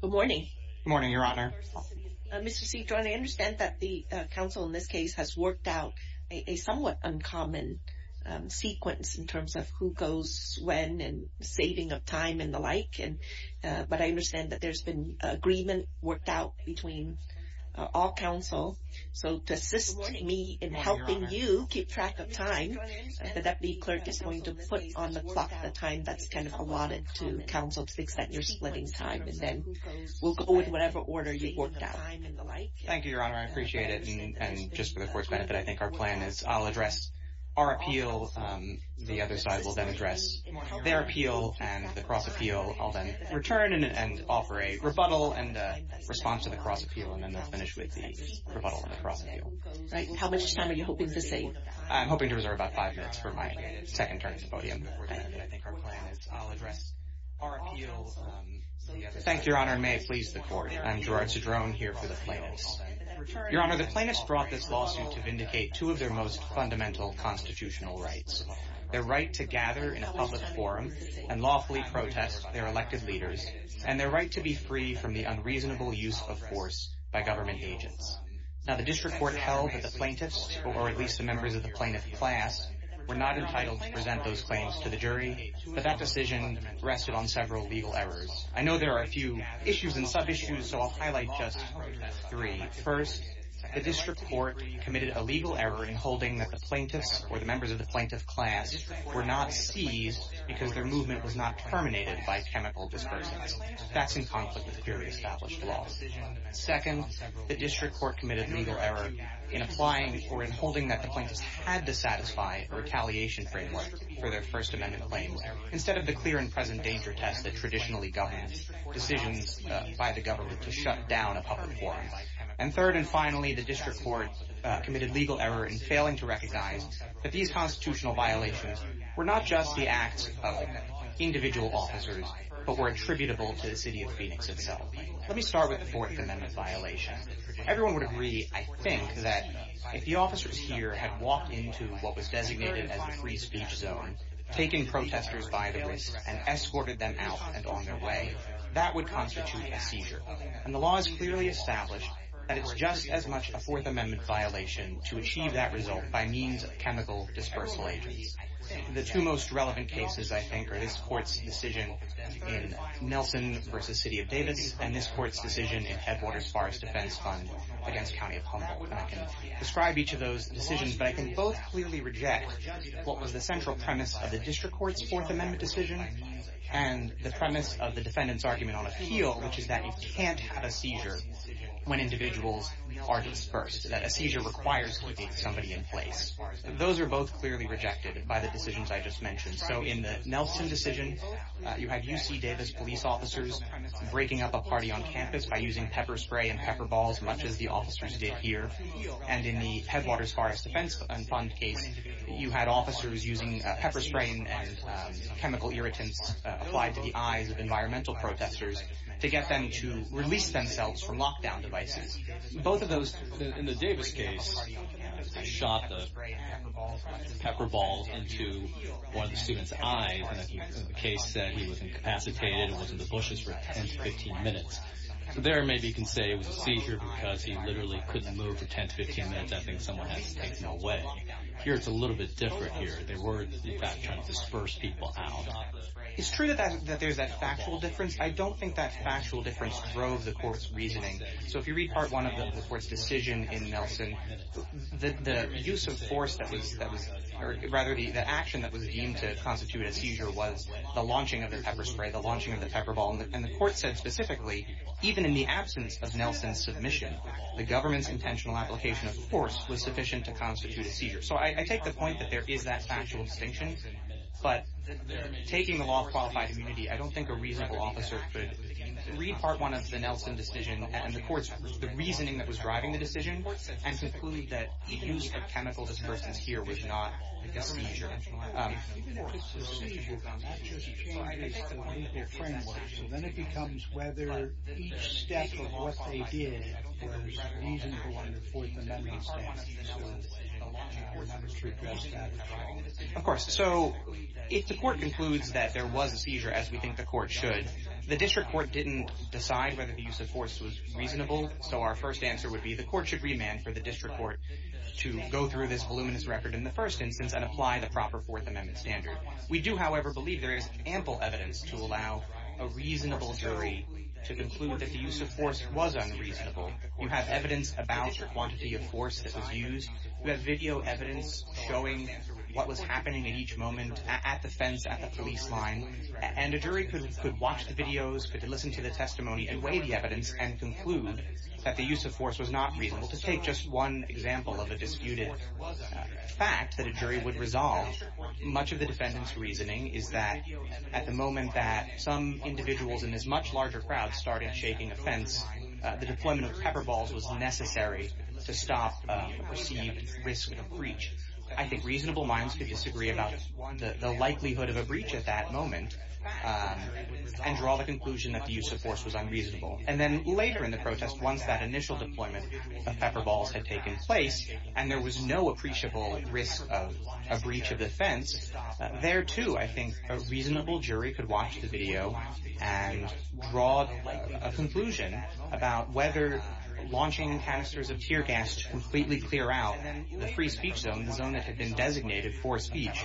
Good morning. Good morning, Your Honor. Mr. C, I understand that the counsel in this case has worked out a somewhat uncommon sequence in terms of who goes when and saving of time and the like. But I understand that there's been agreement worked out between all counsel. So to assist me in helping you keep track of time, the Deputy Clerk is going to put on the clock the time that's kind of allotted to counsel to the extent you're splitting time. And then we'll go in whatever order you worked out. Thank you, Your Honor. I appreciate it. And just for the Court's benefit, I think our plan is I'll address our appeal. The other side will then address their appeal and the cross appeal. So I'll then return and offer a rebuttal and a response to the cross appeal. And then we'll finish with the rebuttal and the cross appeal. How much time are you hoping to save? I'm hoping to reserve about five minutes for my second turn at the podium. And I think our plan is I'll address our appeal. Thank you, Your Honor, and may it please the Court. I'm Gerard Cedrone here for the plaintiffs. Your Honor, the plaintiffs brought this lawsuit to vindicate two of their most fundamental constitutional rights. Their right to gather in a public forum and lawfully protest their elected leaders and their right to be free from the unreasonable use of force by government agents. Now, the District Court held that the plaintiffs, or at least the members of the plaintiff class, were not entitled to present those claims to the jury. But that decision rested on several legal errors. I know there are a few issues and sub-issues, so I'll highlight just three. First, the District Court committed a legal error in holding that the plaintiffs, or the members of the plaintiff class, were not seized because their movement was not terminated by chemical dispersants. That's in conflict with purely established law. Second, the District Court committed a legal error in applying or in holding that the plaintiffs had to satisfy a retaliation framework for their First Amendment claims instead of the clear and present danger test that traditionally governs decisions by the government to shut down a public forum. And third and finally, the District Court committed a legal error in failing to recognize that these constitutional violations were not just the acts of individual officers, but were attributable to the city of Phoenix itself. Let me start with the Fourth Amendment violation. Everyone would agree, I think, that if the officers here had walked into what was designated as the free speech zone, taken protesters by the wrist, and escorted them out and on their way, that would constitute a seizure. And the law has clearly established that it's just as much a Fourth Amendment violation to achieve that result by means of chemical dispersal agents. The two most relevant cases, I think, are this Court's decision in Nelson v. City of Davis and this Court's decision in Headwaters Forest Defense Fund against County of Humboldt. And I can describe each of those decisions, but I can both clearly reject what was the central premise of the District Court's Fourth Amendment decision and the premise of the defendant's argument on appeal, which is that you can't have a seizure when individuals are dispersed, that a seizure requires to locate somebody in place. Those are both clearly rejected by the decisions I just mentioned. So in the Nelson decision, you had UC Davis police officers breaking up a party on campus by using pepper spray and pepper balls, much as the officers did here. And in the Headwaters Forest Defense Fund case, you had officers using pepper spray and chemical irritants applied to the eyes of environmental protesters to get them to release themselves from lockdown devices. In the Davis case, they shot the pepper balls into one of the student's eyes, and the case said he was incapacitated and was in the bushes for 10 to 15 minutes. There maybe you can say it was a seizure because he literally couldn't move for 10 to 15 minutes. I think someone has to take him away. But here it's a little bit different here. They were, in fact, trying to disperse people out. It's true that there's that factual difference. I don't think that factual difference drove the court's reasoning. So if you read Part 1 of the court's decision in Nelson, the use of force that was, or rather the action that was deemed to constitute a seizure was the launching of the pepper spray, the launching of the pepper ball. And the court said specifically, even in the absence of Nelson's submission, the government's intentional application of force was sufficient to constitute a seizure. So I take the point that there is that factual distinction. But taking the law of qualified immunity, I don't think a reasonable officer could read Part 1 of the Nelson decision and the court's reasoning that was driving the decision and conclude that the use of chemical dispersants here was not a seizure. Even if it's a seizure, that just changes the legal framework. So then it becomes whether each step of what they did was reasonable in the fourth amendment statute. Of course. So if the court concludes that there was a seizure, as we think the court should, the district court didn't decide whether the use of force was reasonable. So our first answer would be the court should remand for the district court to go through this voluminous record in the first instance and apply the proper fourth amendment standard. We do, however, believe there is ample evidence to allow a reasonable jury to conclude that the use of force was unreasonable. You have evidence about the quantity of force that was used. You have video evidence showing what was happening at each moment at the fence at the police line. And a jury could watch the videos, could listen to the testimony and weigh the evidence and conclude that the use of force was not reasonable. To take just one example of a disputed fact that a jury would resolve, much of the defendant's reasoning is that at the moment that some individuals in this much larger crowd started shaking a fence, the deployment of pepper balls was necessary to stop the perceived risk of breach. I think reasonable minds could disagree about the likelihood of a breach at that moment and draw the conclusion that the use of force was unreasonable. And then later in the protest, once that initial deployment of pepper balls had taken place and there was no appreciable risk of a breach of the fence, there too I think a reasonable jury could watch the video and draw a conclusion about whether launching canisters of tear gas to completely clear out the free speech zone, the zone that had been designated for speech,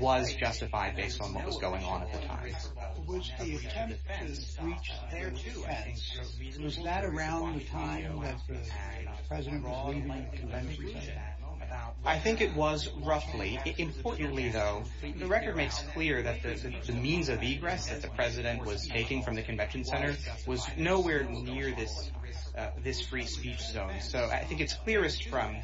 was justified based on what was going on at the time. Was the attempt to breach there too? And was that around the time that the president was leaving the convention center? I think it was roughly. Importantly, though, the record makes clear that the means of egress that the president was taking from the convention center was nowhere near this free speech zone. So I think it's clearest from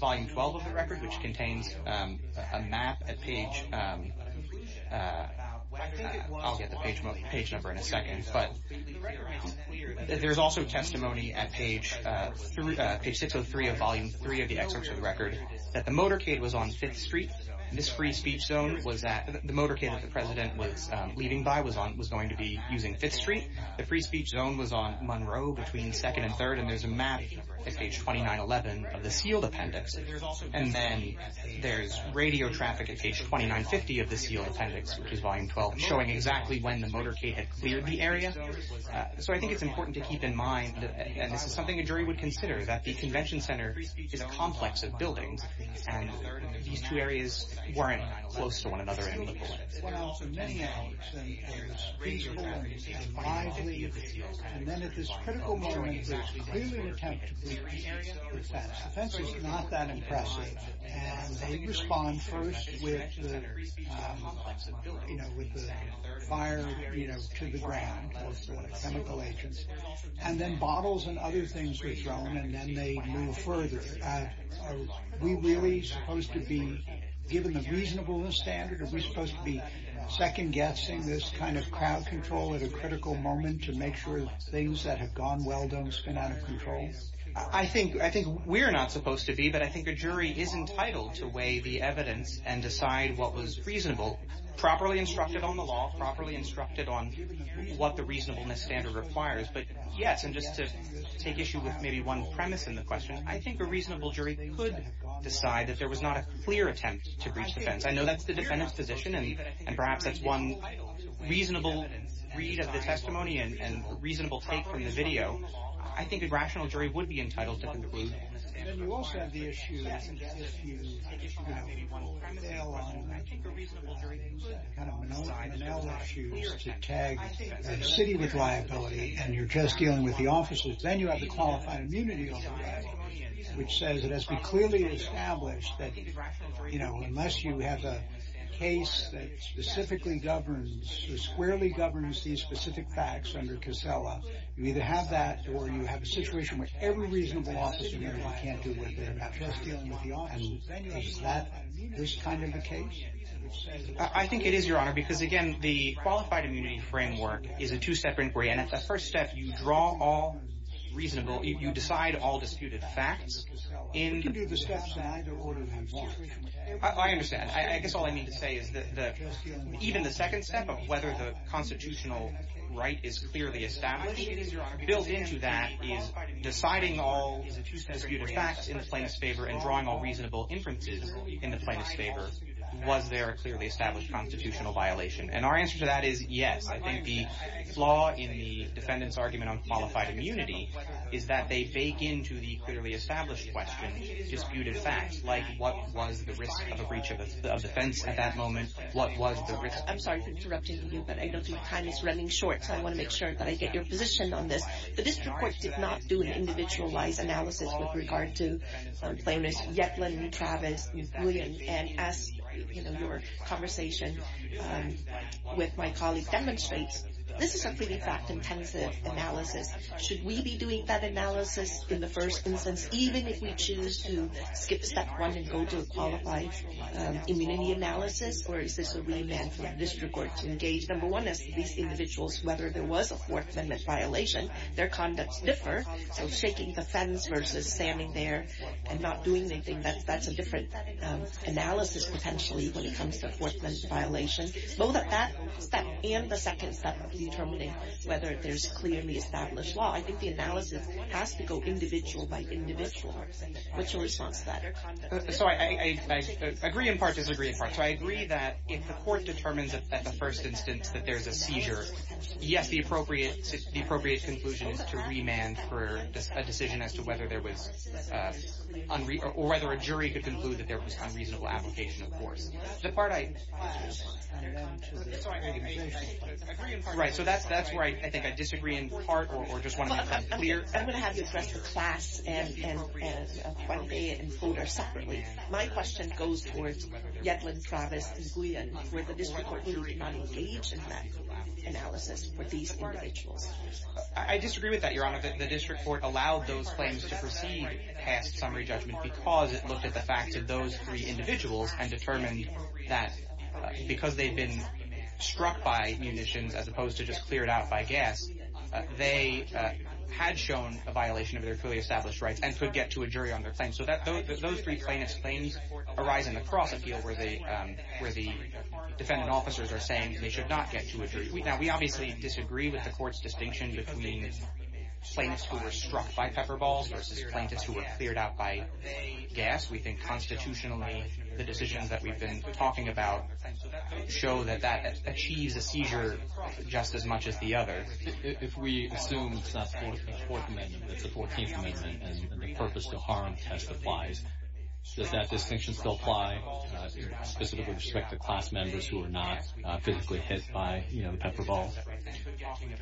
volume 12 of the record, which contains a map, a page, and I'll get the page number in a second. But there's also testimony at page 603 of volume 3 of the excerpts of the record that the motorcade was on 5th Street. This free speech zone was at, the motorcade that the president was leaving by was going to be using 5th Street. The free speech zone was on Monroe between 2nd and 3rd, and there's a map at page 2911 of the sealed appendix. And then there's radio traffic at page 2950 of the sealed appendix, which is volume 12, showing exactly when the motorcade had cleared the area. So I think it's important to keep in mind, and this is something a jury would consider, that the convention center is a complex of buildings, and these two areas weren't close to one another in the book. Well, for many hours, and it was peaceful and lively, and then at this critical moment, there's clearly an attempt to breach defense. Defense is not that impressive. And they respond first with the fire to the ground of chemical agents, and then bottles and other things were thrown, and then they move further. Are we really supposed to be given the reasonableness standard? Are we supposed to be second-guessing this kind of crowd control at a critical moment to make sure things that have gone well don't spin out of control? I think we're not supposed to be, but I think a jury is entitled to weigh the evidence and decide what was reasonable, properly instructed on the law, properly instructed on what the reasonableness standard requires. But yes, and just to take issue with maybe one premise in the question, I think a reasonable jury could decide that there was not a clear attempt to breach defense. I know that's the defendant's position, and perhaps that's one reasonable read of the testimony and a reasonable take from the video. I think a rational jury would be entitled to conclude. Then you also have the issue that if you have a bail-on, I think a reasonable jury can decide. I don't know if I know the issues to tag a city with liability, and you're just dealing with the officers. Then you have the qualified immunity law, which says it has to be clearly established that unless you have a case that specifically governs or squarely governs these specific facts under CASELA, you either have that or you have a situation where every reasonable officer can't do what they're about to do. Is that this kind of a case? I think it is, Your Honor, because, again, the qualified immunity framework is a two-step inquiry. At the first step, you draw all reasonable, you decide all disputed facts. We can do the steps on either order of importance. I understand. I guess all I mean to say is that even the second step of whether the constitutional right is clearly established, built into that is deciding all disputed facts in the plaintiff's favor and drawing all reasonable inferences in the plaintiff's favor, was there a clearly established constitutional violation? Our answer to that is yes. I think the flaw in the defendant's argument on qualified immunity is that they bake into the clearly established question disputed facts, like what was the risk of a breach of defense at that moment? What was the risk? I'm sorry for interrupting you, but I don't think time is running short, so I want to make sure that I get your position on this. The district court did not do an individualized analysis with regard to plaintiffs Yetlin, Travis, and William. And as your conversation with my colleague demonstrates, this is a pretty fact-intensive analysis. Should we be doing that analysis in the first instance, even if we choose to skip step one and go to a qualified immunity analysis? Or is this a remand for the district court to engage? Number one is these individuals, whether there was a Fourth Amendment violation, their conducts differ. So shaking the fence versus standing there and not doing anything, that's a different analysis potentially when it comes to a Fourth Amendment violation. Both of that step and the second step of determining whether there's clearly established law, I think the analysis has to go individual by individual. What's your response to that? So I agree in part, disagree in part. So I agree that if the court determines at the first instance that there's a seizure, yes, the appropriate conclusion is to remand for a decision as to whether there was unreasonable or whether a jury could conclude that there was unreasonable application, of course. The part I disagree in part or just want to make that clear. I'm going to have you address the class and what they encode are separately. My question goes towards Yetlin, Travis, and Guillen. Would the district court jury not engage in that analysis for these individuals? I disagree with that, Your Honor. The district court allowed those claims to proceed past summary judgment because it looked at the facts of those three individuals and determined that because they'd been struck by munitions as opposed to just cleared out by gas, they had shown a violation of their clearly established rights and could get to a jury on their claim. So those three plaintiff's claims arise in the cross appeal where the defendant officers are saying they should not get to a jury. Now, we obviously disagree with the court's distinction between plaintiffs who were struck by pepper balls versus plaintiffs who were cleared out by gas. We think constitutionally the decisions that we've been talking about show that that achieves a seizure just as much as the other. If we assume it's not the Fourth Amendment but it's the Fourteenth Amendment and the purpose to harm test applies, does that distinction still apply specifically with respect to class members who are not physically hit by the pepper ball?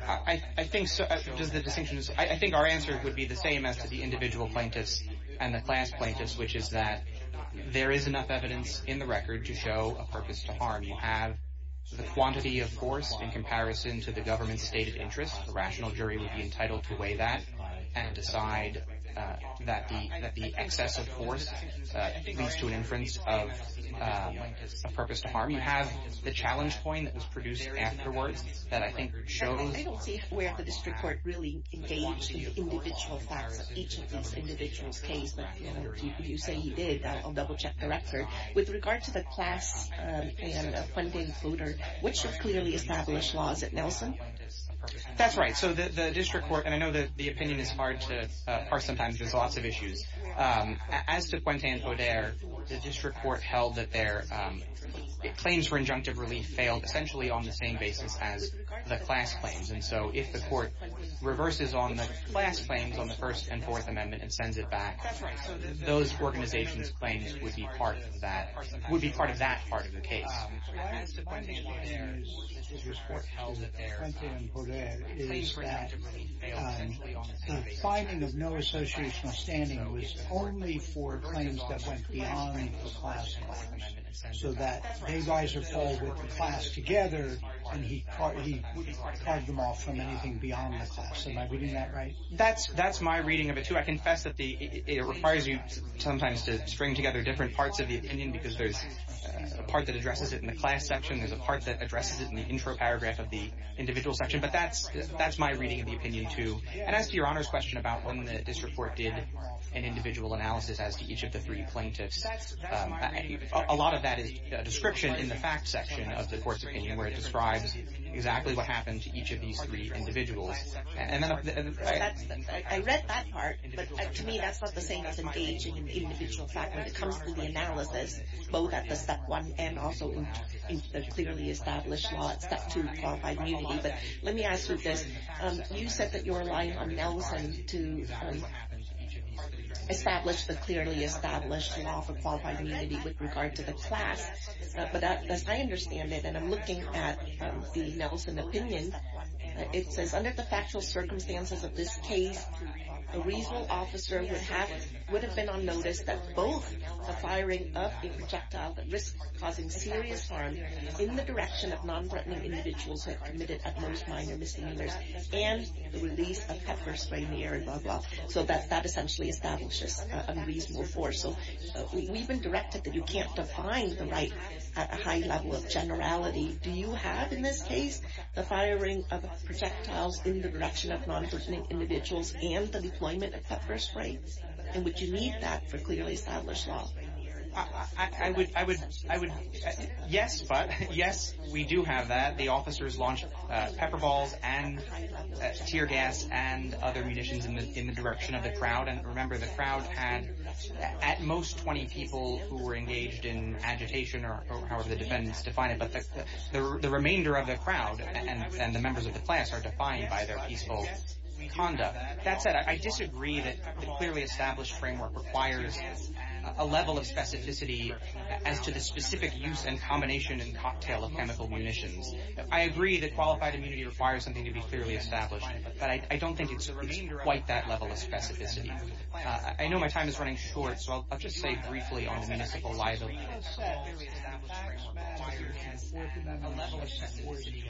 I think our answer would be the same as to the individual plaintiffs and the class plaintiffs, which is that there is enough evidence in the record to show a purpose to harm. You have the quantity of force in comparison to the government's stated interest. The rational jury would be entitled to weigh that and decide that the excess of force leads to an inference of a purpose to harm. You have the challenge point that was produced afterwards that I think shows... I don't see where the district court really engaged in the individual facts of each of these individuals' case, but if you say he did, I'll double-check the record. With regard to the class and Quentin Hoder, which should clearly establish laws at Nelson? That's right. So the district court, and I know that the opinion is hard to parse sometimes. There's lots of issues. As to Quentin Hoder, the district court held that their claims for injunctive relief failed essentially on the same basis as the class claims, and so if the court reverses on the class claims on the First and Fourth Amendment and sends it back, those organizations' claims would be part of that part of the case. As to why the district court held that Quentin Hoder is that the finding of no associational standing was only for claims that went beyond the class claims, so that they guys are called with the class together and he carved them off from anything beyond the class. Am I reading that right? That's my reading of it, too. I confess that it requires you sometimes to string together different parts of the opinion because there's a part that addresses it in the class section, there's a part that addresses it in the intro paragraph of the individual section, but that's my reading of the opinion, too. And as to Your Honor's question about when the district court did an individual analysis as to each of the three plaintiffs, a lot of that is a description in the facts section of the court's opinion where it describes exactly what happened to each of these three individuals. I read that part, but to me that's not the same as engaging an individual fact when it comes to the analysis, both at the Step 1 and also in the clearly established law at Step 2, Qualified Immunity. But let me ask you this. You said that you were relying on Nelson to establish the clearly established law for Qualified Immunity with regard to the class, but as I understand it, and I'm looking at the Nelson opinion, it says under the factual circumstances of this case, a reasonable officer would have been on notice that both the firing of a projectile that risks causing serious harm in the direction of non-threatening individuals who have committed at most minor misdemeanors and the release of pepper spray in the air, and blah, blah. So that essentially establishes a reasonable force. So we've been directed that you can't define the right at a high level of generality. Do you have in this case the firing of projectiles in the direction of non-threatening individuals and the deployment of pepper spray, and would you need that for clearly established law? I would, yes, but yes, we do have that. The officers launched pepper balls and tear gas and other munitions in the direction of the crowd, and remember the crowd had at most 20 people who were engaged in agitation or however the defendants define it, but the remainder of the crowd and the members of the class are defined by their peaceful conduct. That said, I disagree that the clearly established framework requires a level of specificity as to the specific use and combination and cocktail of chemical munitions. I agree that qualified immunity requires something to be clearly established, but I don't think it's quite that level of specificity. I know my time is running short, so I'll just say briefly on the municipal liability. The clearly established framework requires a level of specificity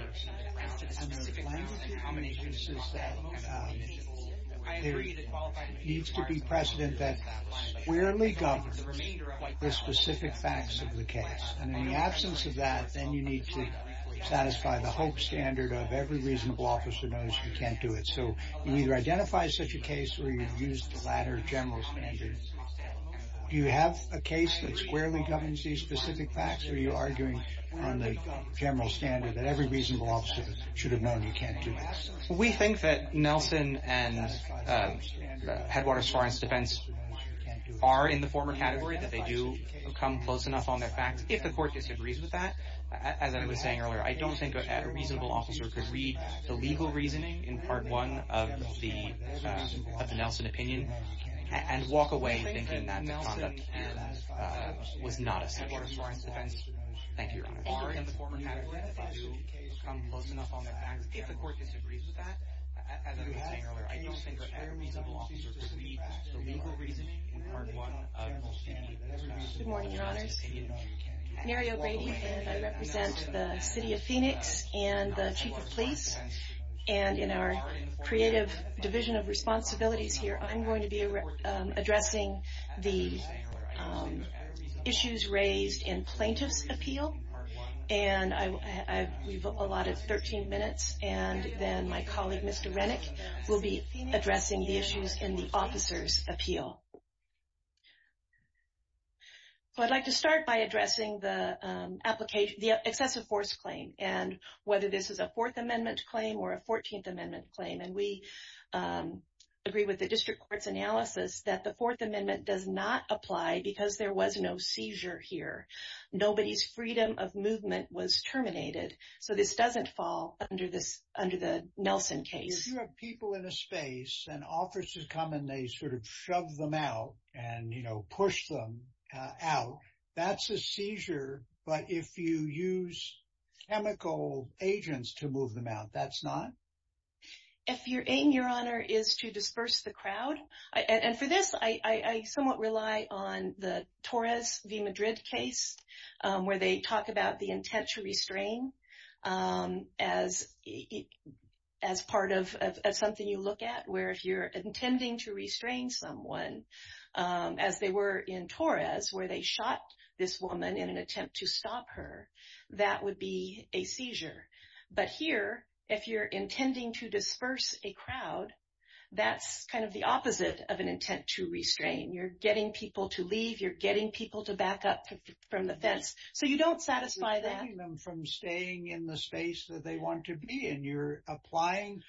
as to the specific use and combination of chemical munitions. I agree that qualified immunity requires something to be clearly established, but I don't think it's quite that level of specificity. I agree that qualified immunity requires something to be clearly established, but I don't think it's quite that level of specificity. Do you have a case that squarely governs these specific facts, or are you arguing on the general standard that every reasonable officer should have known you can't do this? We think that Nelson and Headwaters Forensic Defense are in the former category, that they do come close enough on their facts. If the court disagrees with that, as I was saying earlier, I don't think a reasonable officer could read the legal reasoning in Part 1 of the Nelson opinion and walk away thinking that the conduct was not acceptable. Thank you, Your Honor. Are in the former category, that they do come close enough on their facts. If the court disagrees with that, as I was saying earlier, I don't think a reasonable officer could read the legal reasoning in Part 1 of the Nelson opinion. Good morning, Your Honors. I'm Mary O'Grady, and I represent the City of Phoenix and the Chief of Police. And in our creative division of responsibilities here, I'm going to be addressing the issues raised in plaintiff's appeal. And we've allotted 13 minutes, and then my colleague, Mr. Rennick, So I'd like to start by addressing the excessive force claim, and whether this is a Fourth Amendment claim or a Fourteenth Amendment claim. And we agree with the district court's analysis that the Fourth Amendment does not apply because there was no seizure here. Nobody's freedom of movement was terminated. So this doesn't fall under the Nelson case. If you have people in a space and officers come and they sort of shove them out and, you know, push them out, that's a seizure. But if you use chemical agents to move them out, that's not? If your aim, Your Honor, is to disperse the crowd. And for this, I somewhat rely on the Torres v. Madrid case, where they talk about the intent to restrain as part of something you look at, where if you're intending to restrain someone, as they were in Torres, where they shot this woman in an attempt to stop her, that would be a seizure. But here, if you're intending to disperse a crowd, that's kind of the opposite of an intent to restrain. You're getting people to leave. You're getting people to back up from the fence. So you don't satisfy that. You're restraining them from staying in the space that they want to be in. You're applying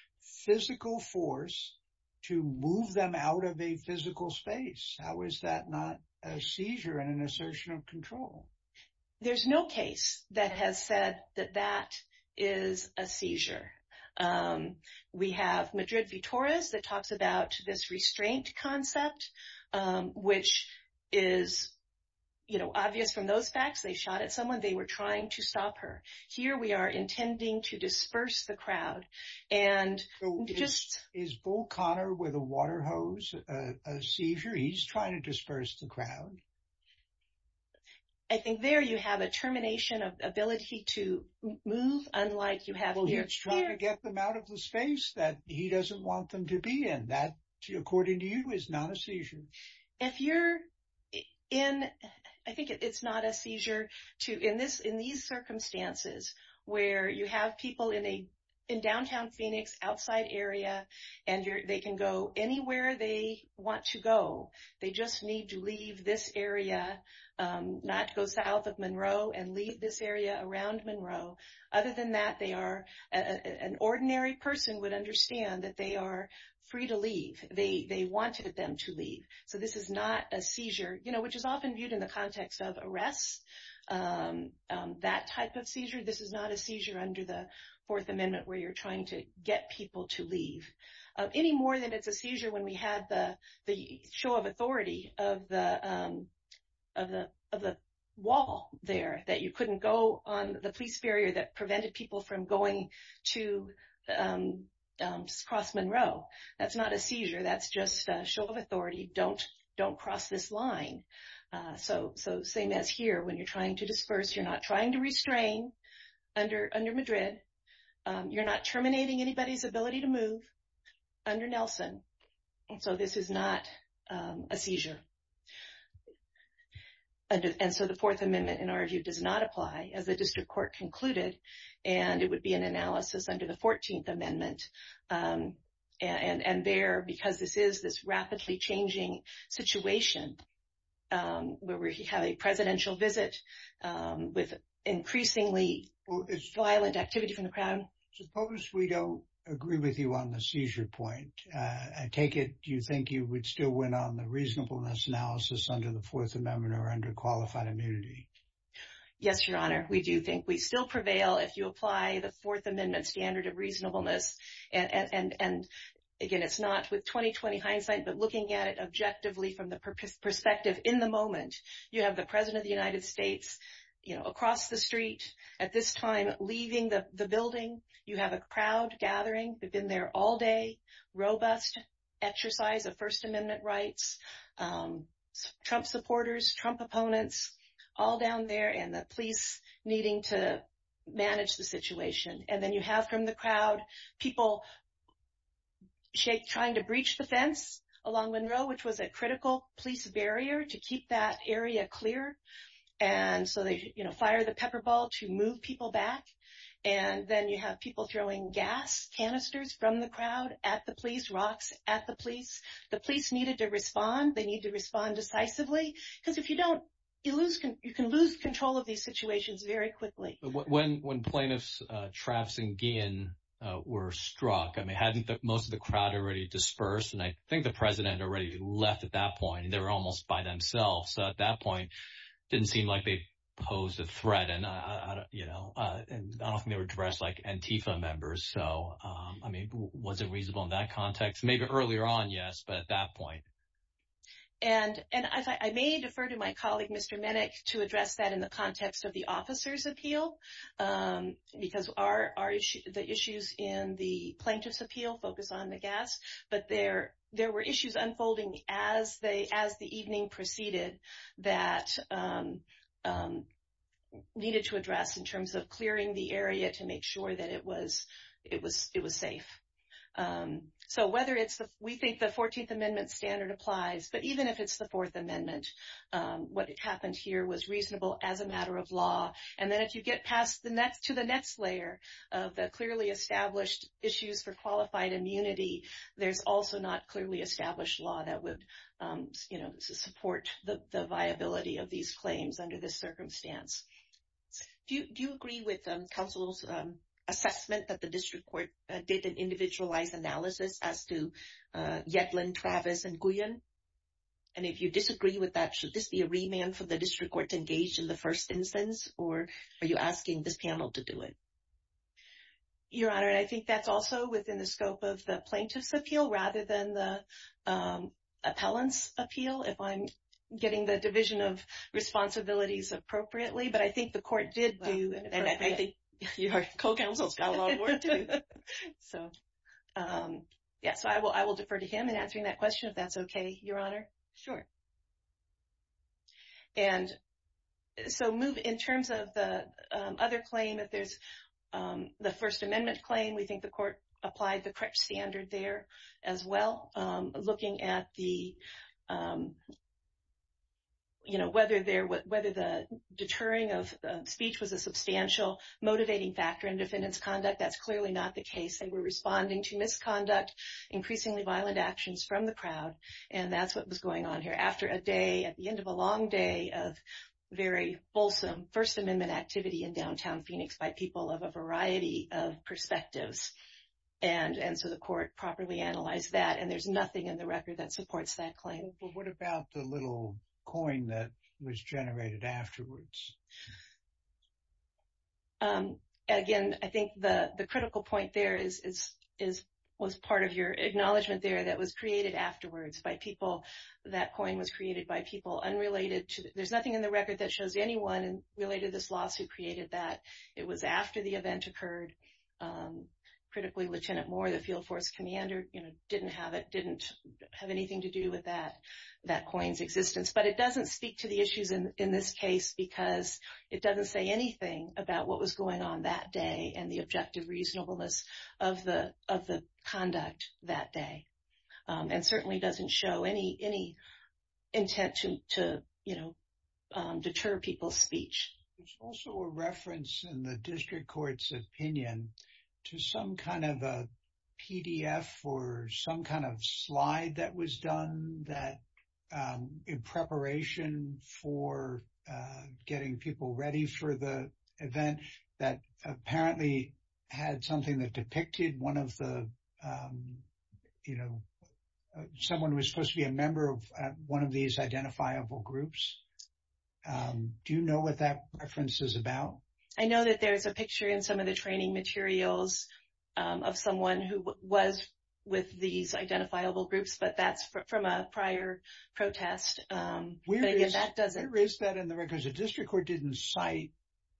physical force to move them out of a physical space. How is that not a seizure and an assertion of control? There's no case that has said that that is a seizure. We have Madrid v. Torres that talks about this restraint concept, which is obvious from those facts. They shot at someone. They were trying to stop her. Here we are intending to disperse the crowd. Is Bull Connor with a water hose a seizure? He's trying to disperse the crowd. I think there you have a termination of ability to move, unlike you have here. He's trying to get them out of the space that he doesn't want them to be in. That, according to you, is not a seizure. If you're in, I think it's not a seizure. In these circumstances where you have people in downtown Phoenix, outside area, and they can go anywhere they want to go. They just need to leave this area, not go south of Monroe and leave this area around Monroe. Other than that, an ordinary person would understand that they are free to leave. They wanted them to leave. So this is not a seizure, which is often viewed in the context of arrests. That type of seizure, this is not a seizure under the Fourth Amendment where you're trying to get people to leave. Any more than it's a seizure when we have the show of authority of the wall there, that you couldn't go on the police barrier that prevented people from going to cross Monroe. That's not a seizure. That's just a show of authority. Don't cross this line. So same as here, when you're trying to disperse, you're not trying to restrain under Madrid. You're not terminating anybody's ability to move under Nelson. So this is not a seizure. And so the Fourth Amendment, in our view, does not apply, as the district court concluded, and it would be an analysis under the 14th Amendment. And there, because this is this rapidly changing situation where we have a presidential visit with increasingly violent activity from the crowd. Suppose we don't agree with you on the seizure point. I take it you think you would still win on the reasonableness analysis under the Fourth Amendment or under qualified immunity. Yes, Your Honor. We do think we still prevail if you apply the Fourth Amendment standard of reasonableness. And, again, it's not with 20-20 hindsight, but looking at it objectively from the perspective in the moment, you have the President of the United States across the street at this time leaving the building. You have a crowd gathering. They've been there all day, robust exercise of First Amendment rights, Trump supporters, Trump opponents all down there, and the police needing to manage the situation. And then you have from the crowd people trying to breach the fence along Monroe, which was a critical police barrier to keep that area clear. And so they fire the pepper ball to move people back. And then you have people throwing gas canisters from the crowd at the police, rocks at the police. The police needed to respond. They needed to respond decisively because if you don't, you can lose control of these situations very quickly. When plaintiffs Travson Gein were struck, I mean, hadn't most of the crowd already dispersed? And I think the President already left at that point. They were almost by themselves. So at that point it didn't seem like they posed a threat. And, you know, I don't think they were dressed like Antifa members. So, I mean, was it reasonable in that context? Maybe earlier on, yes, but at that point. And I may defer to my colleague, Mr. Minnick, to address that in the context of the officer's appeal, because the issues in the plaintiff's appeal focus on the gas. But there were issues unfolding as the evening proceeded that needed to address in terms of clearing the area to make sure that it was safe. So whether it's the, we think the 14th Amendment standard applies, but even if it's the Fourth Amendment, what happened here was reasonable as a matter of law. And then if you get past to the next layer of the clearly established issues for qualified immunity, there's also not clearly established law that would, you know, support the viability of these claims under this circumstance. Do you agree with counsel's assessment that the district court did an individualized analysis as to Yetlin, Travis, and Guyon? And if you disagree with that, should this be a remand for the district court to engage in the first instance? Or are you asking this panel to do it? Your Honor, I think that's also within the scope of the plaintiff's appeal rather than the appellant's appeal. If I'm getting the division of responsibilities appropriately, but I think the court did do, and I think your co-counsel's got a lot of work to do. So, yes, I will defer to him in answering that question, if that's okay, Your Honor. Sure. And so move in terms of the other claim, if there's the First Amendment claim, we think the court applied the correct standard there as well. Looking at the, you know, whether the deterring of speech was a substantial motivating factor in defendant's conduct, that's clearly not the case. They were responding to misconduct, increasingly violent actions from the crowd, and that's what was going on here. After a day, at the end of a long day of very fulsome First Amendment activity in downtown Phoenix by people of a variety of perspectives. And so the court properly analyzed that, and there's nothing in the record that supports that claim. But what about the little coin that was generated afterwards? Again, I think the critical point there was part of your acknowledgment there that was created afterwards by people. That coin was created by people unrelated to, there's nothing in the record that shows anyone related to this lawsuit created that. It was after the event occurred. Critically, Lieutenant Moore, the field force commander, you know, didn't have it, didn't have anything to do with that coin's existence. But it doesn't speak to the issues in this case because it doesn't say anything about what was going on that day and the objective reasonableness of the conduct that day. And certainly doesn't show any intent to, you know, deter people's speech. There's also a reference in the district court's opinion to some kind of a PDF or some kind of slide that was done that, in preparation for getting people ready for the event, that apparently had something that depicted one of the, you know, someone who was supposed to be a member of one of these identifiable groups. Do you know what that reference is about? I know that there's a picture in some of the training materials of someone who was with these identifiable groups, but that's from a prior protest. But again, that doesn't. There is that in the records. The district court didn't cite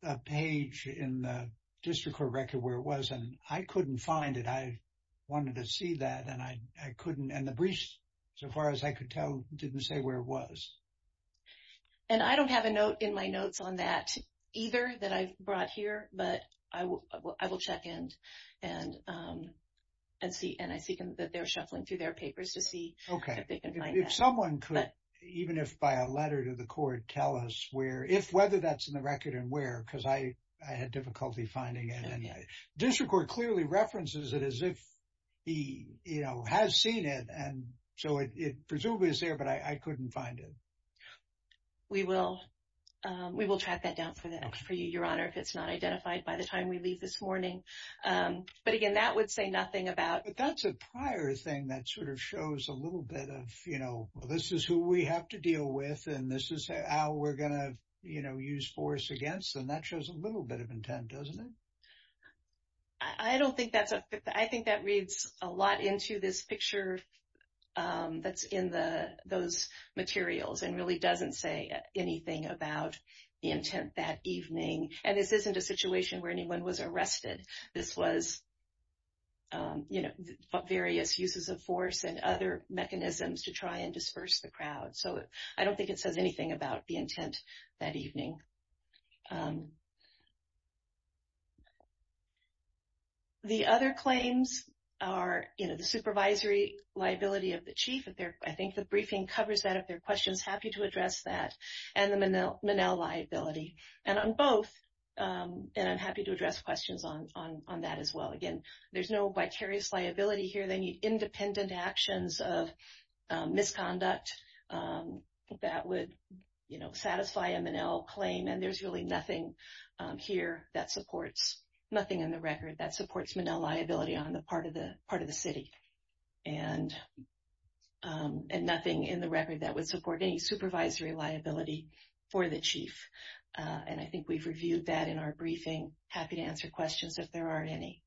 a page in the district court record where it was, and I couldn't find it. I wanted to see that, and I couldn't. And the briefs, so far as I could tell, didn't say where it was. And I don't have a note in my notes on that either that I've brought here, but I will check in and see. And I see that they're shuffling through their papers to see if they can find that. Okay. If someone could, even if by a letter to the court, tell us where, if, whether that's in the record and where, because I had difficulty finding it. District court clearly references it as if he, you know, has seen it, and so it presumably is there, but I couldn't find it. We will track that down for you, Your Honor, if it's not identified by the time we leave this morning. But again, that would say nothing about. But that's a prior thing that sort of shows a little bit of, you know, this is who we have to deal with, and this is how we're going to, you know, use force against. And that shows a little bit of intent, doesn't it? I don't think that's a, I think that reads a lot into this picture that's in those materials, and really doesn't say anything about the intent that evening. And this isn't a situation where anyone was arrested. This was, you know, various uses of force and other mechanisms to try and disperse the crowd. So I don't think it says anything about the intent that evening. The other claims are, you know, the supervisory liability of the chief. I think the briefing covers that. If there are questions, happy to address that. And the Manelle liability. And on both, and I'm happy to address questions on that as well. Again, there's no vicarious liability here. They need independent actions of misconduct that would, you know, satisfy a Manelle claim. And there's really nothing here that supports, nothing in the record that supports Manelle liability on the part of the city. And nothing in the record that would support any supervisory liability for the chief. And I think we've reviewed that in our briefing. Happy to answer questions if there aren't any.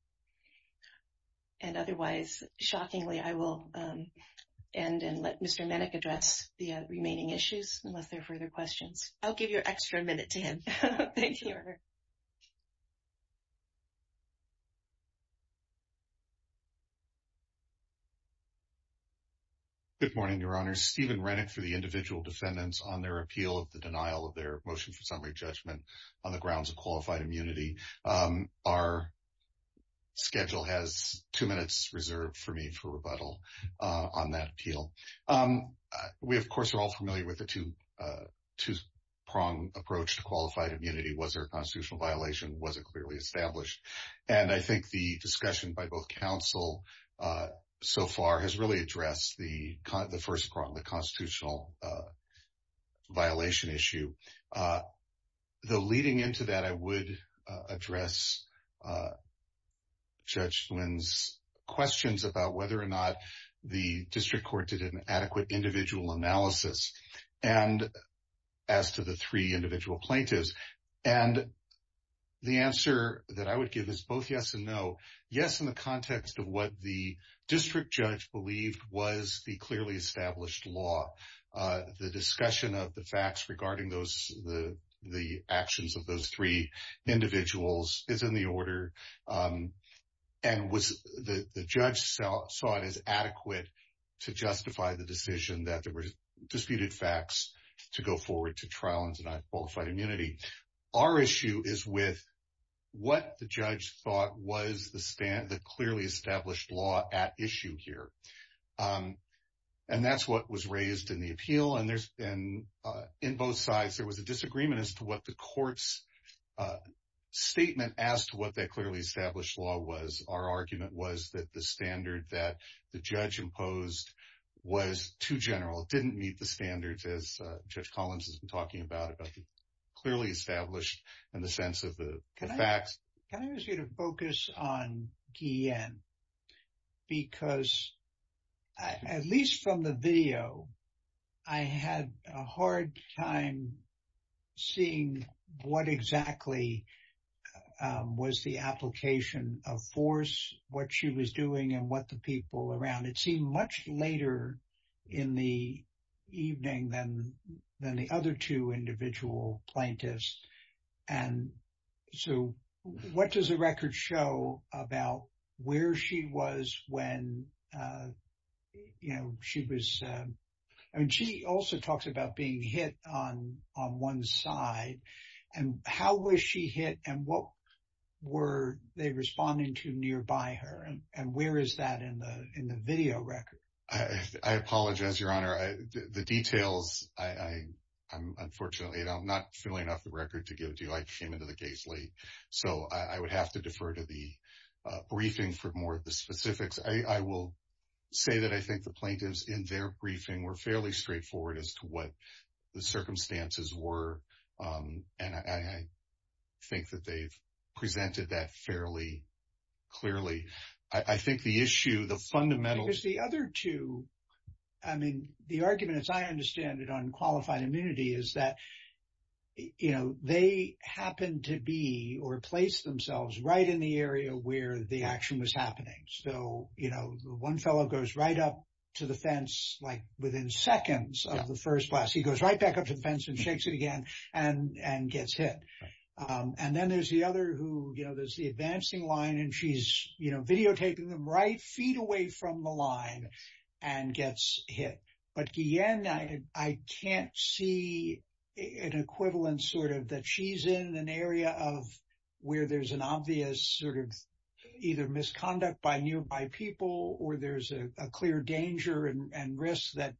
And otherwise, shockingly, I will end and let Mr. Mennick address the remaining issues unless there are further questions. I'll give you an extra minute to him. Thank you. Good morning, Your Honor. Stephen Renick for the individual defendants on their appeal of the denial of their motion for summary judgment on the grounds of qualified immunity. Our schedule has two minutes reserved for me for rebuttal on that appeal. We, of course, are all familiar with the two-prong approach to qualified immunity. Was there a constitutional violation? Was it clearly established? And I think the discussion by both counsel so far has really addressed the first prong, the constitutional violation issue. Though leading into that, I would address Judge Flynn's questions about whether or not the district court did an adequate individual analysis as to the three individual plaintiffs. And the answer that I would give is both yes and no. Yes, in the context of what the district judge believed was the clearly established law. The discussion of the facts regarding the actions of those three individuals is in the order. And the judge saw it as adequate to justify the decision that there were disputed facts to go forward to trial and deny qualified immunity. Our issue is with what the judge thought was the clearly established law at issue here. And that's what was raised in the appeal. And in both sides, there was a disagreement as to what the court's statement as to what that clearly established law was. Our argument was that the standard that the judge imposed was too general. It didn't meet the standards as Judge Collins has been talking about, about the clearly established and the sense of the facts. Can I ask you to focus on Guillen? Because at least from the video, I had a hard time seeing what exactly was the application of force, what she was doing and what the people around. It seemed much later in the evening than the other two individual plaintiffs. And so what does the record show about where she was when she was? And she also talks about being hit on on one side. And how was she hit and what were they responding to nearby her? And where is that in the in the video record? I apologize, Your Honor. The details, I'm unfortunately not feeling off the record to give to you. I came into the case late. So I would have to defer to the briefing for more of the specifics. I will say that I think the plaintiffs in their briefing were fairly straightforward as to what the circumstances were. And I think that they've presented that fairly clearly. I think the issue, the fundamentals. The other two. I mean, the argument, as I understand it, on qualified immunity is that, you know, they happen to be or place themselves right in the area where the action was happening. So, you know, one fellow goes right up to the fence, like within seconds of the first class. He goes right back up to the fence and shakes it again and gets hit. And then there's the other who, you know, there's the advancing line and she's, you know, videotaping them right feet away from the line and gets hit. But again, I can't see an equivalent sort of that she's in an area of where there's an obvious sort of either misconduct by nearby people or there's a clear danger and risk that,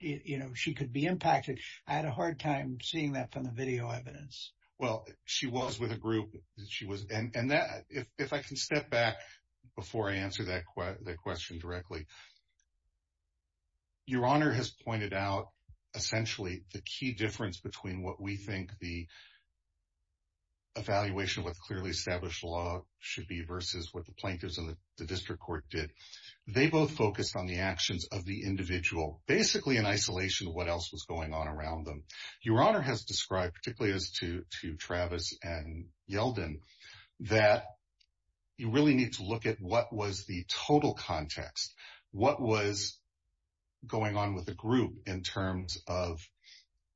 you know, she could be impacted. I had a hard time seeing that from the video evidence. Well, she was with a group. She was. And if I can step back before I answer that question directly. Your Honor has pointed out essentially the key difference between what we think the evaluation with clearly established law should be versus what the plaintiffs in the district court did. They both focused on the actions of the individual, basically in isolation of what else was going on around them. Your Honor has described, particularly as to Travis and Yelden, that you really need to look at what was the total context. What was going on with the group in terms of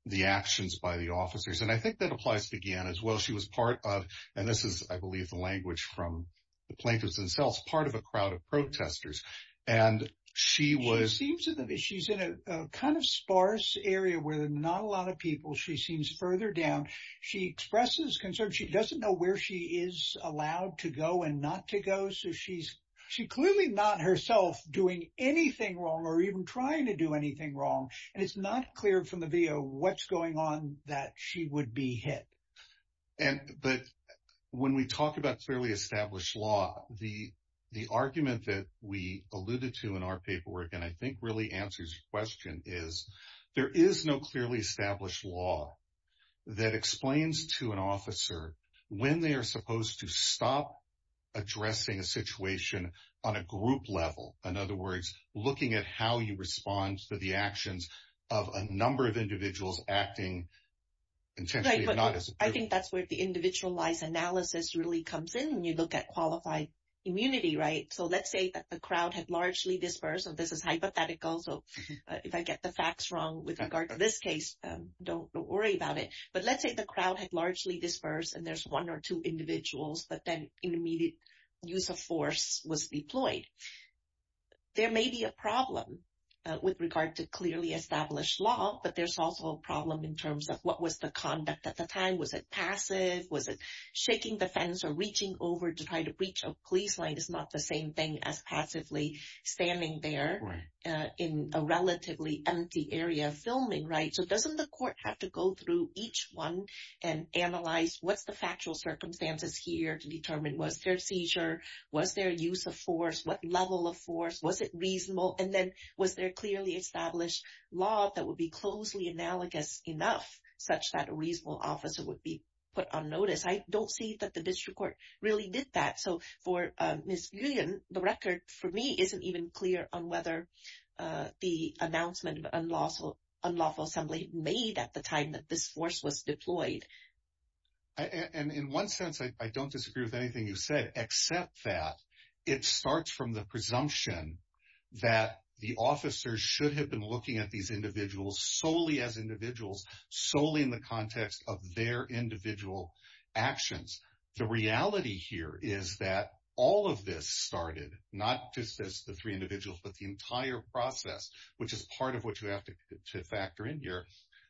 the actions by the officers? And I think that applies again as well. She was part of and this is, I believe, the language from the plaintiffs themselves, part of a crowd of protesters. And she was. She's in a kind of sparse area where there's not a lot of people. She seems further down. She expresses concern. She doesn't know where she is allowed to go and not to go. So she's clearly not herself doing anything wrong or even trying to do anything wrong. And it's not clear from the video what's going on that she would be hit. But when we talk about clearly established law, the argument that we alluded to in our paperwork and I think really answers your question is, there is no clearly established law that explains to an officer when they are supposed to stop addressing a situation on a group level. In other words, looking at how you respond to the actions of a number of individuals acting intentionally or not. I think that's where the individualized analysis really comes in when you look at qualified immunity. Right. So let's say that the crowd had largely dispersed. So this is hypothetical. So if I get the facts wrong with regard to this case, don't worry about it. But let's say the crowd had largely dispersed and there's one or two individuals that then intermediate use of force was deployed. There may be a problem with regard to clearly established law, but there's also a problem in terms of what was the conduct at the time. Was it passive? Was it shaking the fence or reaching over to try to breach a police line? It's not the same thing as passively standing there in a relatively empty area filming, right? So doesn't the court have to go through each one and analyze what's the factual circumstances here to determine? Was there a seizure? Was there use of force? What level of force? Was it reasonable? And then was there clearly established law that would be closely analogous enough such that a reasonable officer would be put on notice? I don't see that the district court really did that. So for Ms. Julian, the record for me isn't even clear on whether the announcement of unlawful assembly made at the time that this force was deployed. And in one sense, I don't disagree with anything you said, except that it starts from the presumption that the officers should have been looking at these individuals solely as individuals, solely in the context of their individual actions. The reality here is that all of this started not just as the three individuals, but the entire process, which is part of what you have to factor in here,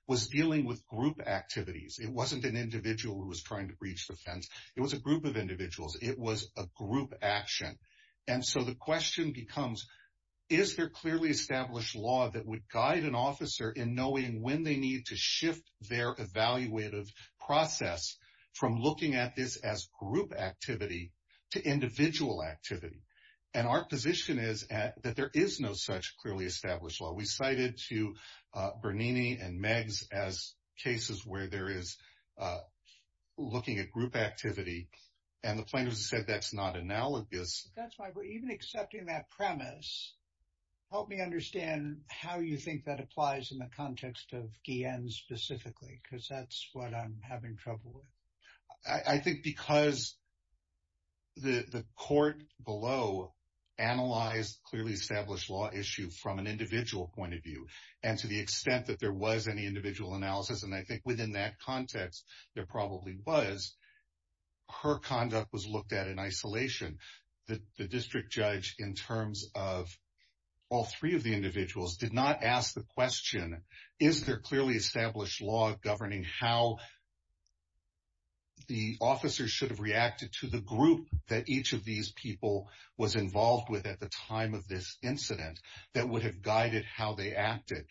was dealing with group activities. It wasn't an individual who was trying to breach the fence. It was a group of individuals. It was a group action. And so the question becomes, is there clearly established law that would guide an officer in knowing when they need to shift their evaluative process from looking at this as group activity to individual activity? And our position is that there is no such clearly established law. We cited to Bernini and Megs as cases where there is looking at group activity, and the plaintiffs have said that's not analogous. That's why we're even accepting that premise. Help me understand how you think that applies in the context of Guillen specifically, because that's what I'm having trouble with. I think because the court below analyzed clearly established law issue from an individual point of view, and to the extent that there was any individual analysis, and I think within that context there probably was, her conduct was looked at in isolation. The district judge in terms of all three of the individuals did not ask the question, is there clearly established law governing how the officers should have reacted to the group that each of these people was involved with at the time of this incident that would have guided how they acted?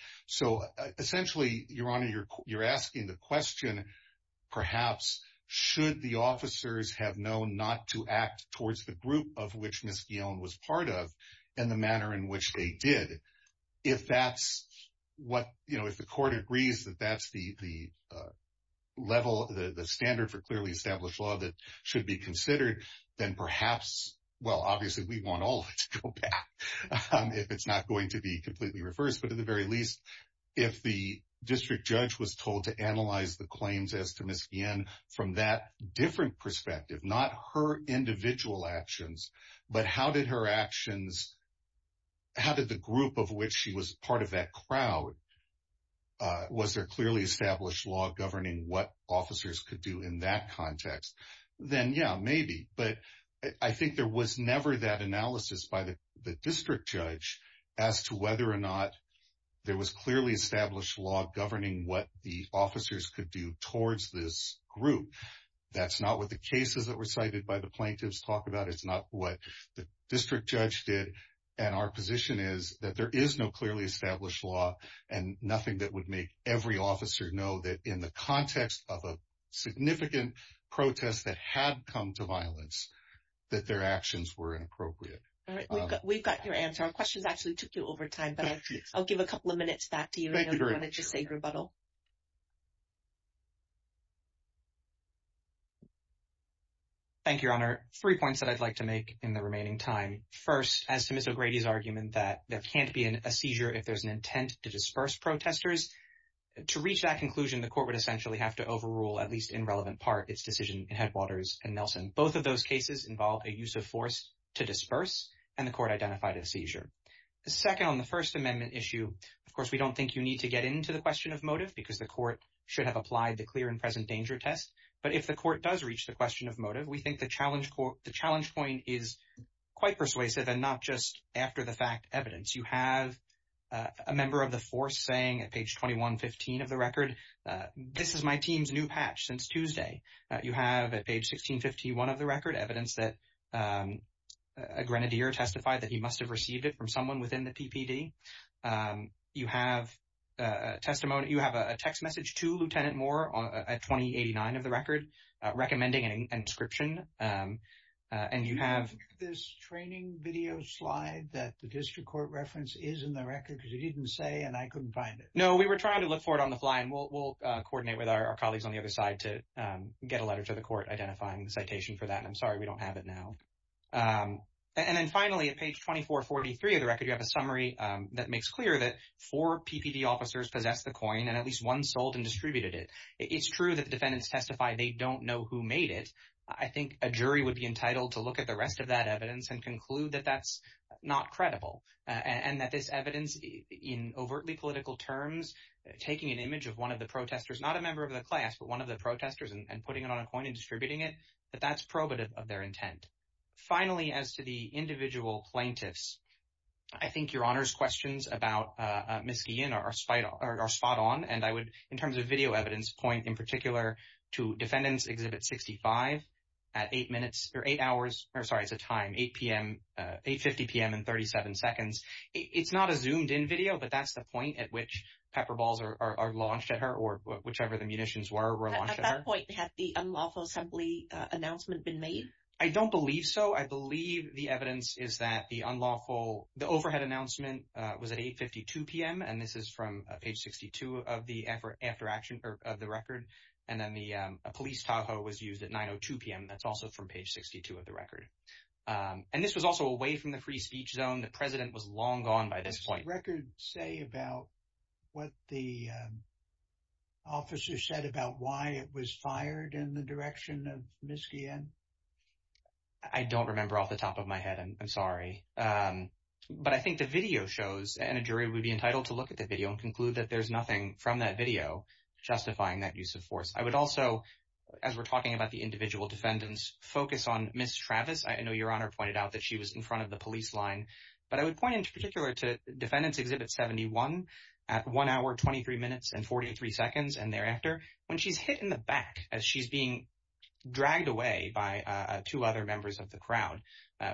Essentially, Your Honor, you're asking the question, perhaps, should the officers have known not to act towards the group of which Ms. Guillen was part of in the manner in which they did? If that's what, you know, if the court agrees that that's the level, the standard for clearly established law that should be considered, then perhaps, well, obviously we want all of it to go back. If it's not going to be completely reversed, but at the very least, if the district judge was told to analyze the claims as to Ms. Guillen from that different perspective, not her individual actions, but how did her actions, how did the group of which she was part of that crowd, was there clearly established law governing what officers could do in that context? Then, yeah, maybe, but I think there was never that analysis by the district judge as to whether or not there was clearly established law governing what the officers could do towards this group. That's not what the cases that were cited by the plaintiffs talk about. It's not what the district judge did. And our position is that there is no clearly established law and nothing that would make every officer know that in the context of a significant protest that had come to violence, that their actions were inappropriate. All right, we've got your answer. Our questions actually took you over time, but I'll give a couple of minutes back to you and I'm going to just say rebuttal. Thank you, Your Honor. Three points that I'd like to make in the remaining time. First, as to Ms. O'Grady's argument that there can't be a seizure if there's an intent to disperse protesters. To reach that conclusion, the court would essentially have to overrule, at least in relevant part, its decision in Headwaters and Nelson. Both of those cases involved a use of force to disperse and the court identified a seizure. Second, on the First Amendment issue, of course, we don't think you need to get into the question of motive because the court should have applied the clear and present danger test. But if the court does reach the question of motive, we think the challenge point is quite persuasive and not just after-the-fact evidence. You have a member of the force saying at page 2115 of the record, this is my team's new patch since Tuesday. You have at page 1651 of the record evidence that a grenadier testified that he must have received it from someone within the PPD. You have a text message to Lieutenant Moore at 2089 of the record recommending an inscription. And you have this training video slide that the district court reference is in the record because you didn't say and I couldn't find it. No, we were trying to look for it on the fly and we'll coordinate with our colleagues on the other side to get a letter to the court identifying the citation for that. I'm sorry we don't have it now. And then finally, at page 2443 of the record, you have a summary that makes clear that four PPD officers possessed the coin and at least one sold and distributed it. It's true that the defendants testified they don't know who made it. I think a jury would be entitled to look at the rest of that evidence and conclude that that's not credible. And that this evidence in overtly political terms, taking an image of one of the protestors, not a member of the class, but one of the protestors and putting it on a coin and distributing it, that that's probative of their intent. Finally, as to the individual plaintiffs, I think Your Honor's questions about Miskean are spot on. And I would, in terms of video evidence, point in particular to Defendants Exhibit 65 at 8 minutes or 8 hours, or sorry, it's a time, 8 p.m., 8.50 p.m. and 37 seconds. It's not a zoomed in video, but that's the point at which pepper balls are launched at her or whichever the munitions were launched at her. At that point, had the unlawful assembly announcement been made? I don't believe so. I believe the evidence is that the unlawful, the overhead announcement was at 8.52 p.m. And this is from page 62 of the effort after action of the record. And then the police Tahoe was used at 9.02 p.m. That's also from page 62 of the record. And this was also away from the free speech zone. The president was long gone by this point record say about what the. Officer said about why it was fired in the direction of Miskean. I don't remember off the top of my head. I'm sorry, but I think the video shows and a jury would be entitled to look at the video and conclude that there's nothing from that video justifying that use of force. I would also, as we're talking about the individual defendants, focus on Miss Travis. I know Your Honor pointed out that she was in front of the police line, but I would point in particular to Defendants Exhibit 71 at 1 hour, 23 minutes and 43 seconds. And thereafter, when she's hit in the back as she's being dragged away by two other members of the crowd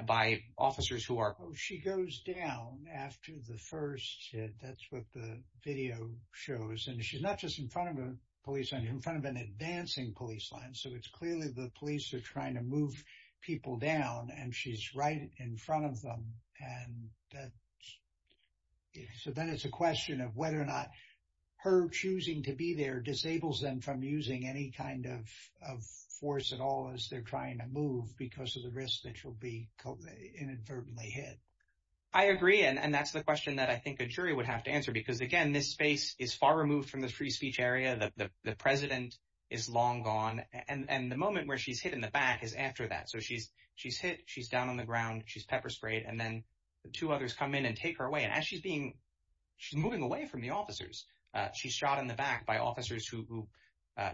by officers who are. She goes down after the first. That's what the video shows. And she's not just in front of a police in front of an advancing police line. So it's clearly the police are trying to move people down. And she's right in front of them. And so then it's a question of whether or not her choosing to be there disables them from using any kind of force at all as they're trying to move because of the risk that you'll be inadvertently hit. I agree. And that's the question that I think a jury would have to answer, because, again, this space is far removed from the free speech area. The president is long gone. And the moment where she's hit in the back is after that. So she's she's hit. She's down on the ground. She's pepper sprayed. And then the two others come in and take her away. And as she's being she's moving away from the officers, she's shot in the back by officers who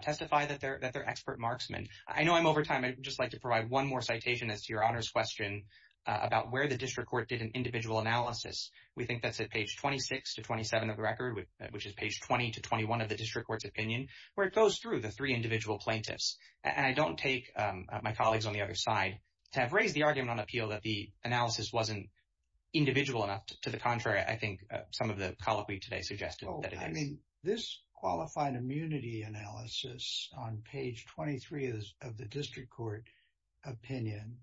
testify that they're that they're expert marksmen. I know I'm over time. I'd just like to provide one more citation as to your honors question about where the district court did an individual analysis. We think that's at page 26 to 27 of the record, which is page 20 to 21 of the district court's opinion, where it goes through the three individual plaintiffs. And I don't take my colleagues on the other side to have raised the argument on appeal that the analysis wasn't individual enough. To the contrary, I think some of the policy today suggested that I mean, this qualified immunity analysis on page 23 of the district court opinion,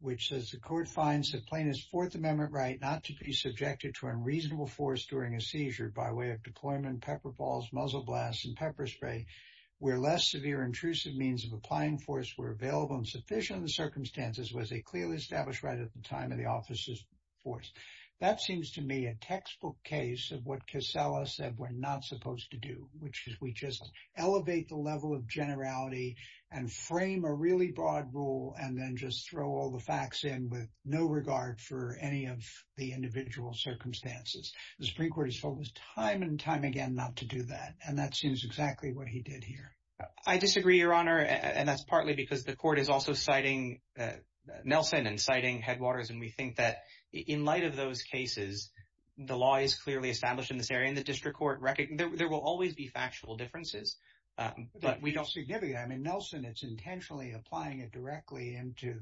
which says the court finds the plaintiff's Fourth Amendment right not to be subjected to unreasonable force during a seizure by way of deployment, pepper balls, muzzle blasts and pepper spray, where less severe intrusive means of applying force were available in sufficient circumstances, was a clearly established right at the time of the officers force. That seems to me a textbook case of what Casella said we're not supposed to do, which is we just elevate the level of generality and frame a really broad rule and then just throw all the facts in with no regard for any of the individual circumstances. The Supreme Court has told us time and time again not to do that. And that seems exactly what he did here. I disagree, Your Honor. And that's partly because the court is also citing Nelson and citing Headwaters. And we think that in light of those cases, the law is clearly established in this area in the district court record. There will always be factual differences, but we don't see. I mean, Nelson, it's intentionally applying it directly into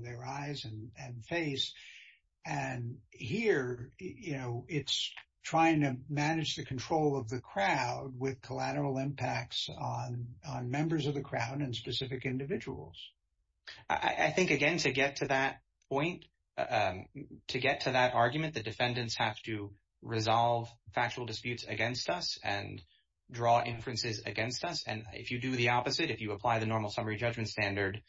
their eyes and face. And here, you know, it's trying to manage the control of the crowd with collateral impacts on members of the crowd and specific individuals. I think, again, to get to that point, to get to that argument, the defendants have to resolve factual disputes against us and draw inferences against us. And if you do the opposite, if you apply the normal summary judgment standard,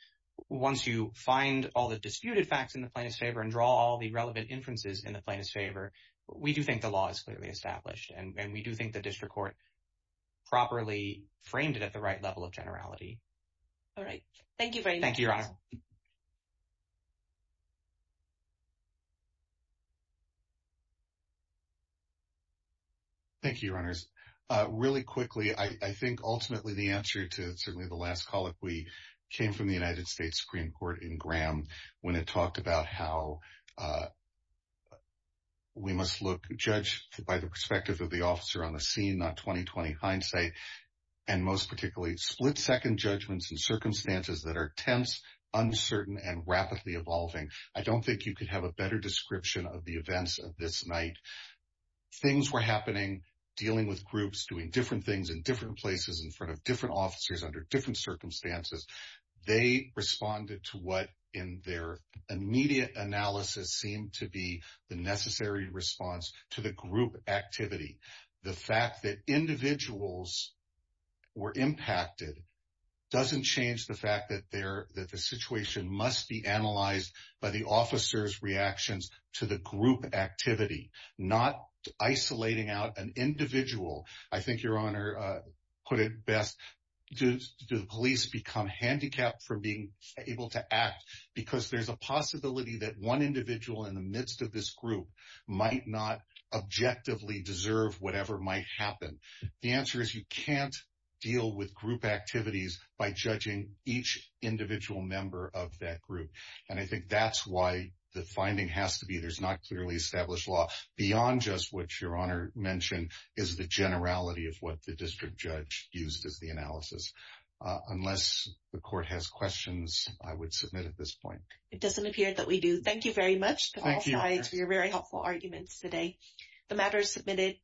once you find all the disputed facts in the plaintiff's favor and draw all the relevant inferences in the plaintiff's favor, we do think the law is clearly established and we do think the district court properly framed it at the right level of generality. All right. Thank you very much. Thank you, Your Honor. Thank you, Your Honors. Really quickly, I think ultimately the answer to certainly the last call, if we came from the United States Supreme Court in Graham, when it talked about how we must look judged by the perspective of the officer on the scene, not 20-20 hindsight, and most particularly split-second judgments and circumstances that are tense, uncertain, and rapidly evolving. I don't think you could have a better description of the events of this night. Things were happening, dealing with groups, doing different things in different places in front of different officers under different circumstances. They responded to what in their immediate analysis seemed to be the necessary response to the group activity. The fact that individuals were impacted doesn't change the fact that the situation must be analyzed by the officer's reactions to the group activity, not isolating out an individual. I think Your Honor put it best, do the police become handicapped from being able to act? Because there's a possibility that one individual in the midst of this group might not objectively deserve whatever might happen. The answer is you can't deal with group activities by judging each individual member of that group. And I think that's why the finding has to be there's not clearly established law beyond just what Your Honor mentioned is the generality of what the district judge used as the analysis. Unless the court has questions, I would submit at this point. It doesn't appear that we do. Thank you very much, Your Honor, for your very helpful arguments today. The matter is submitted.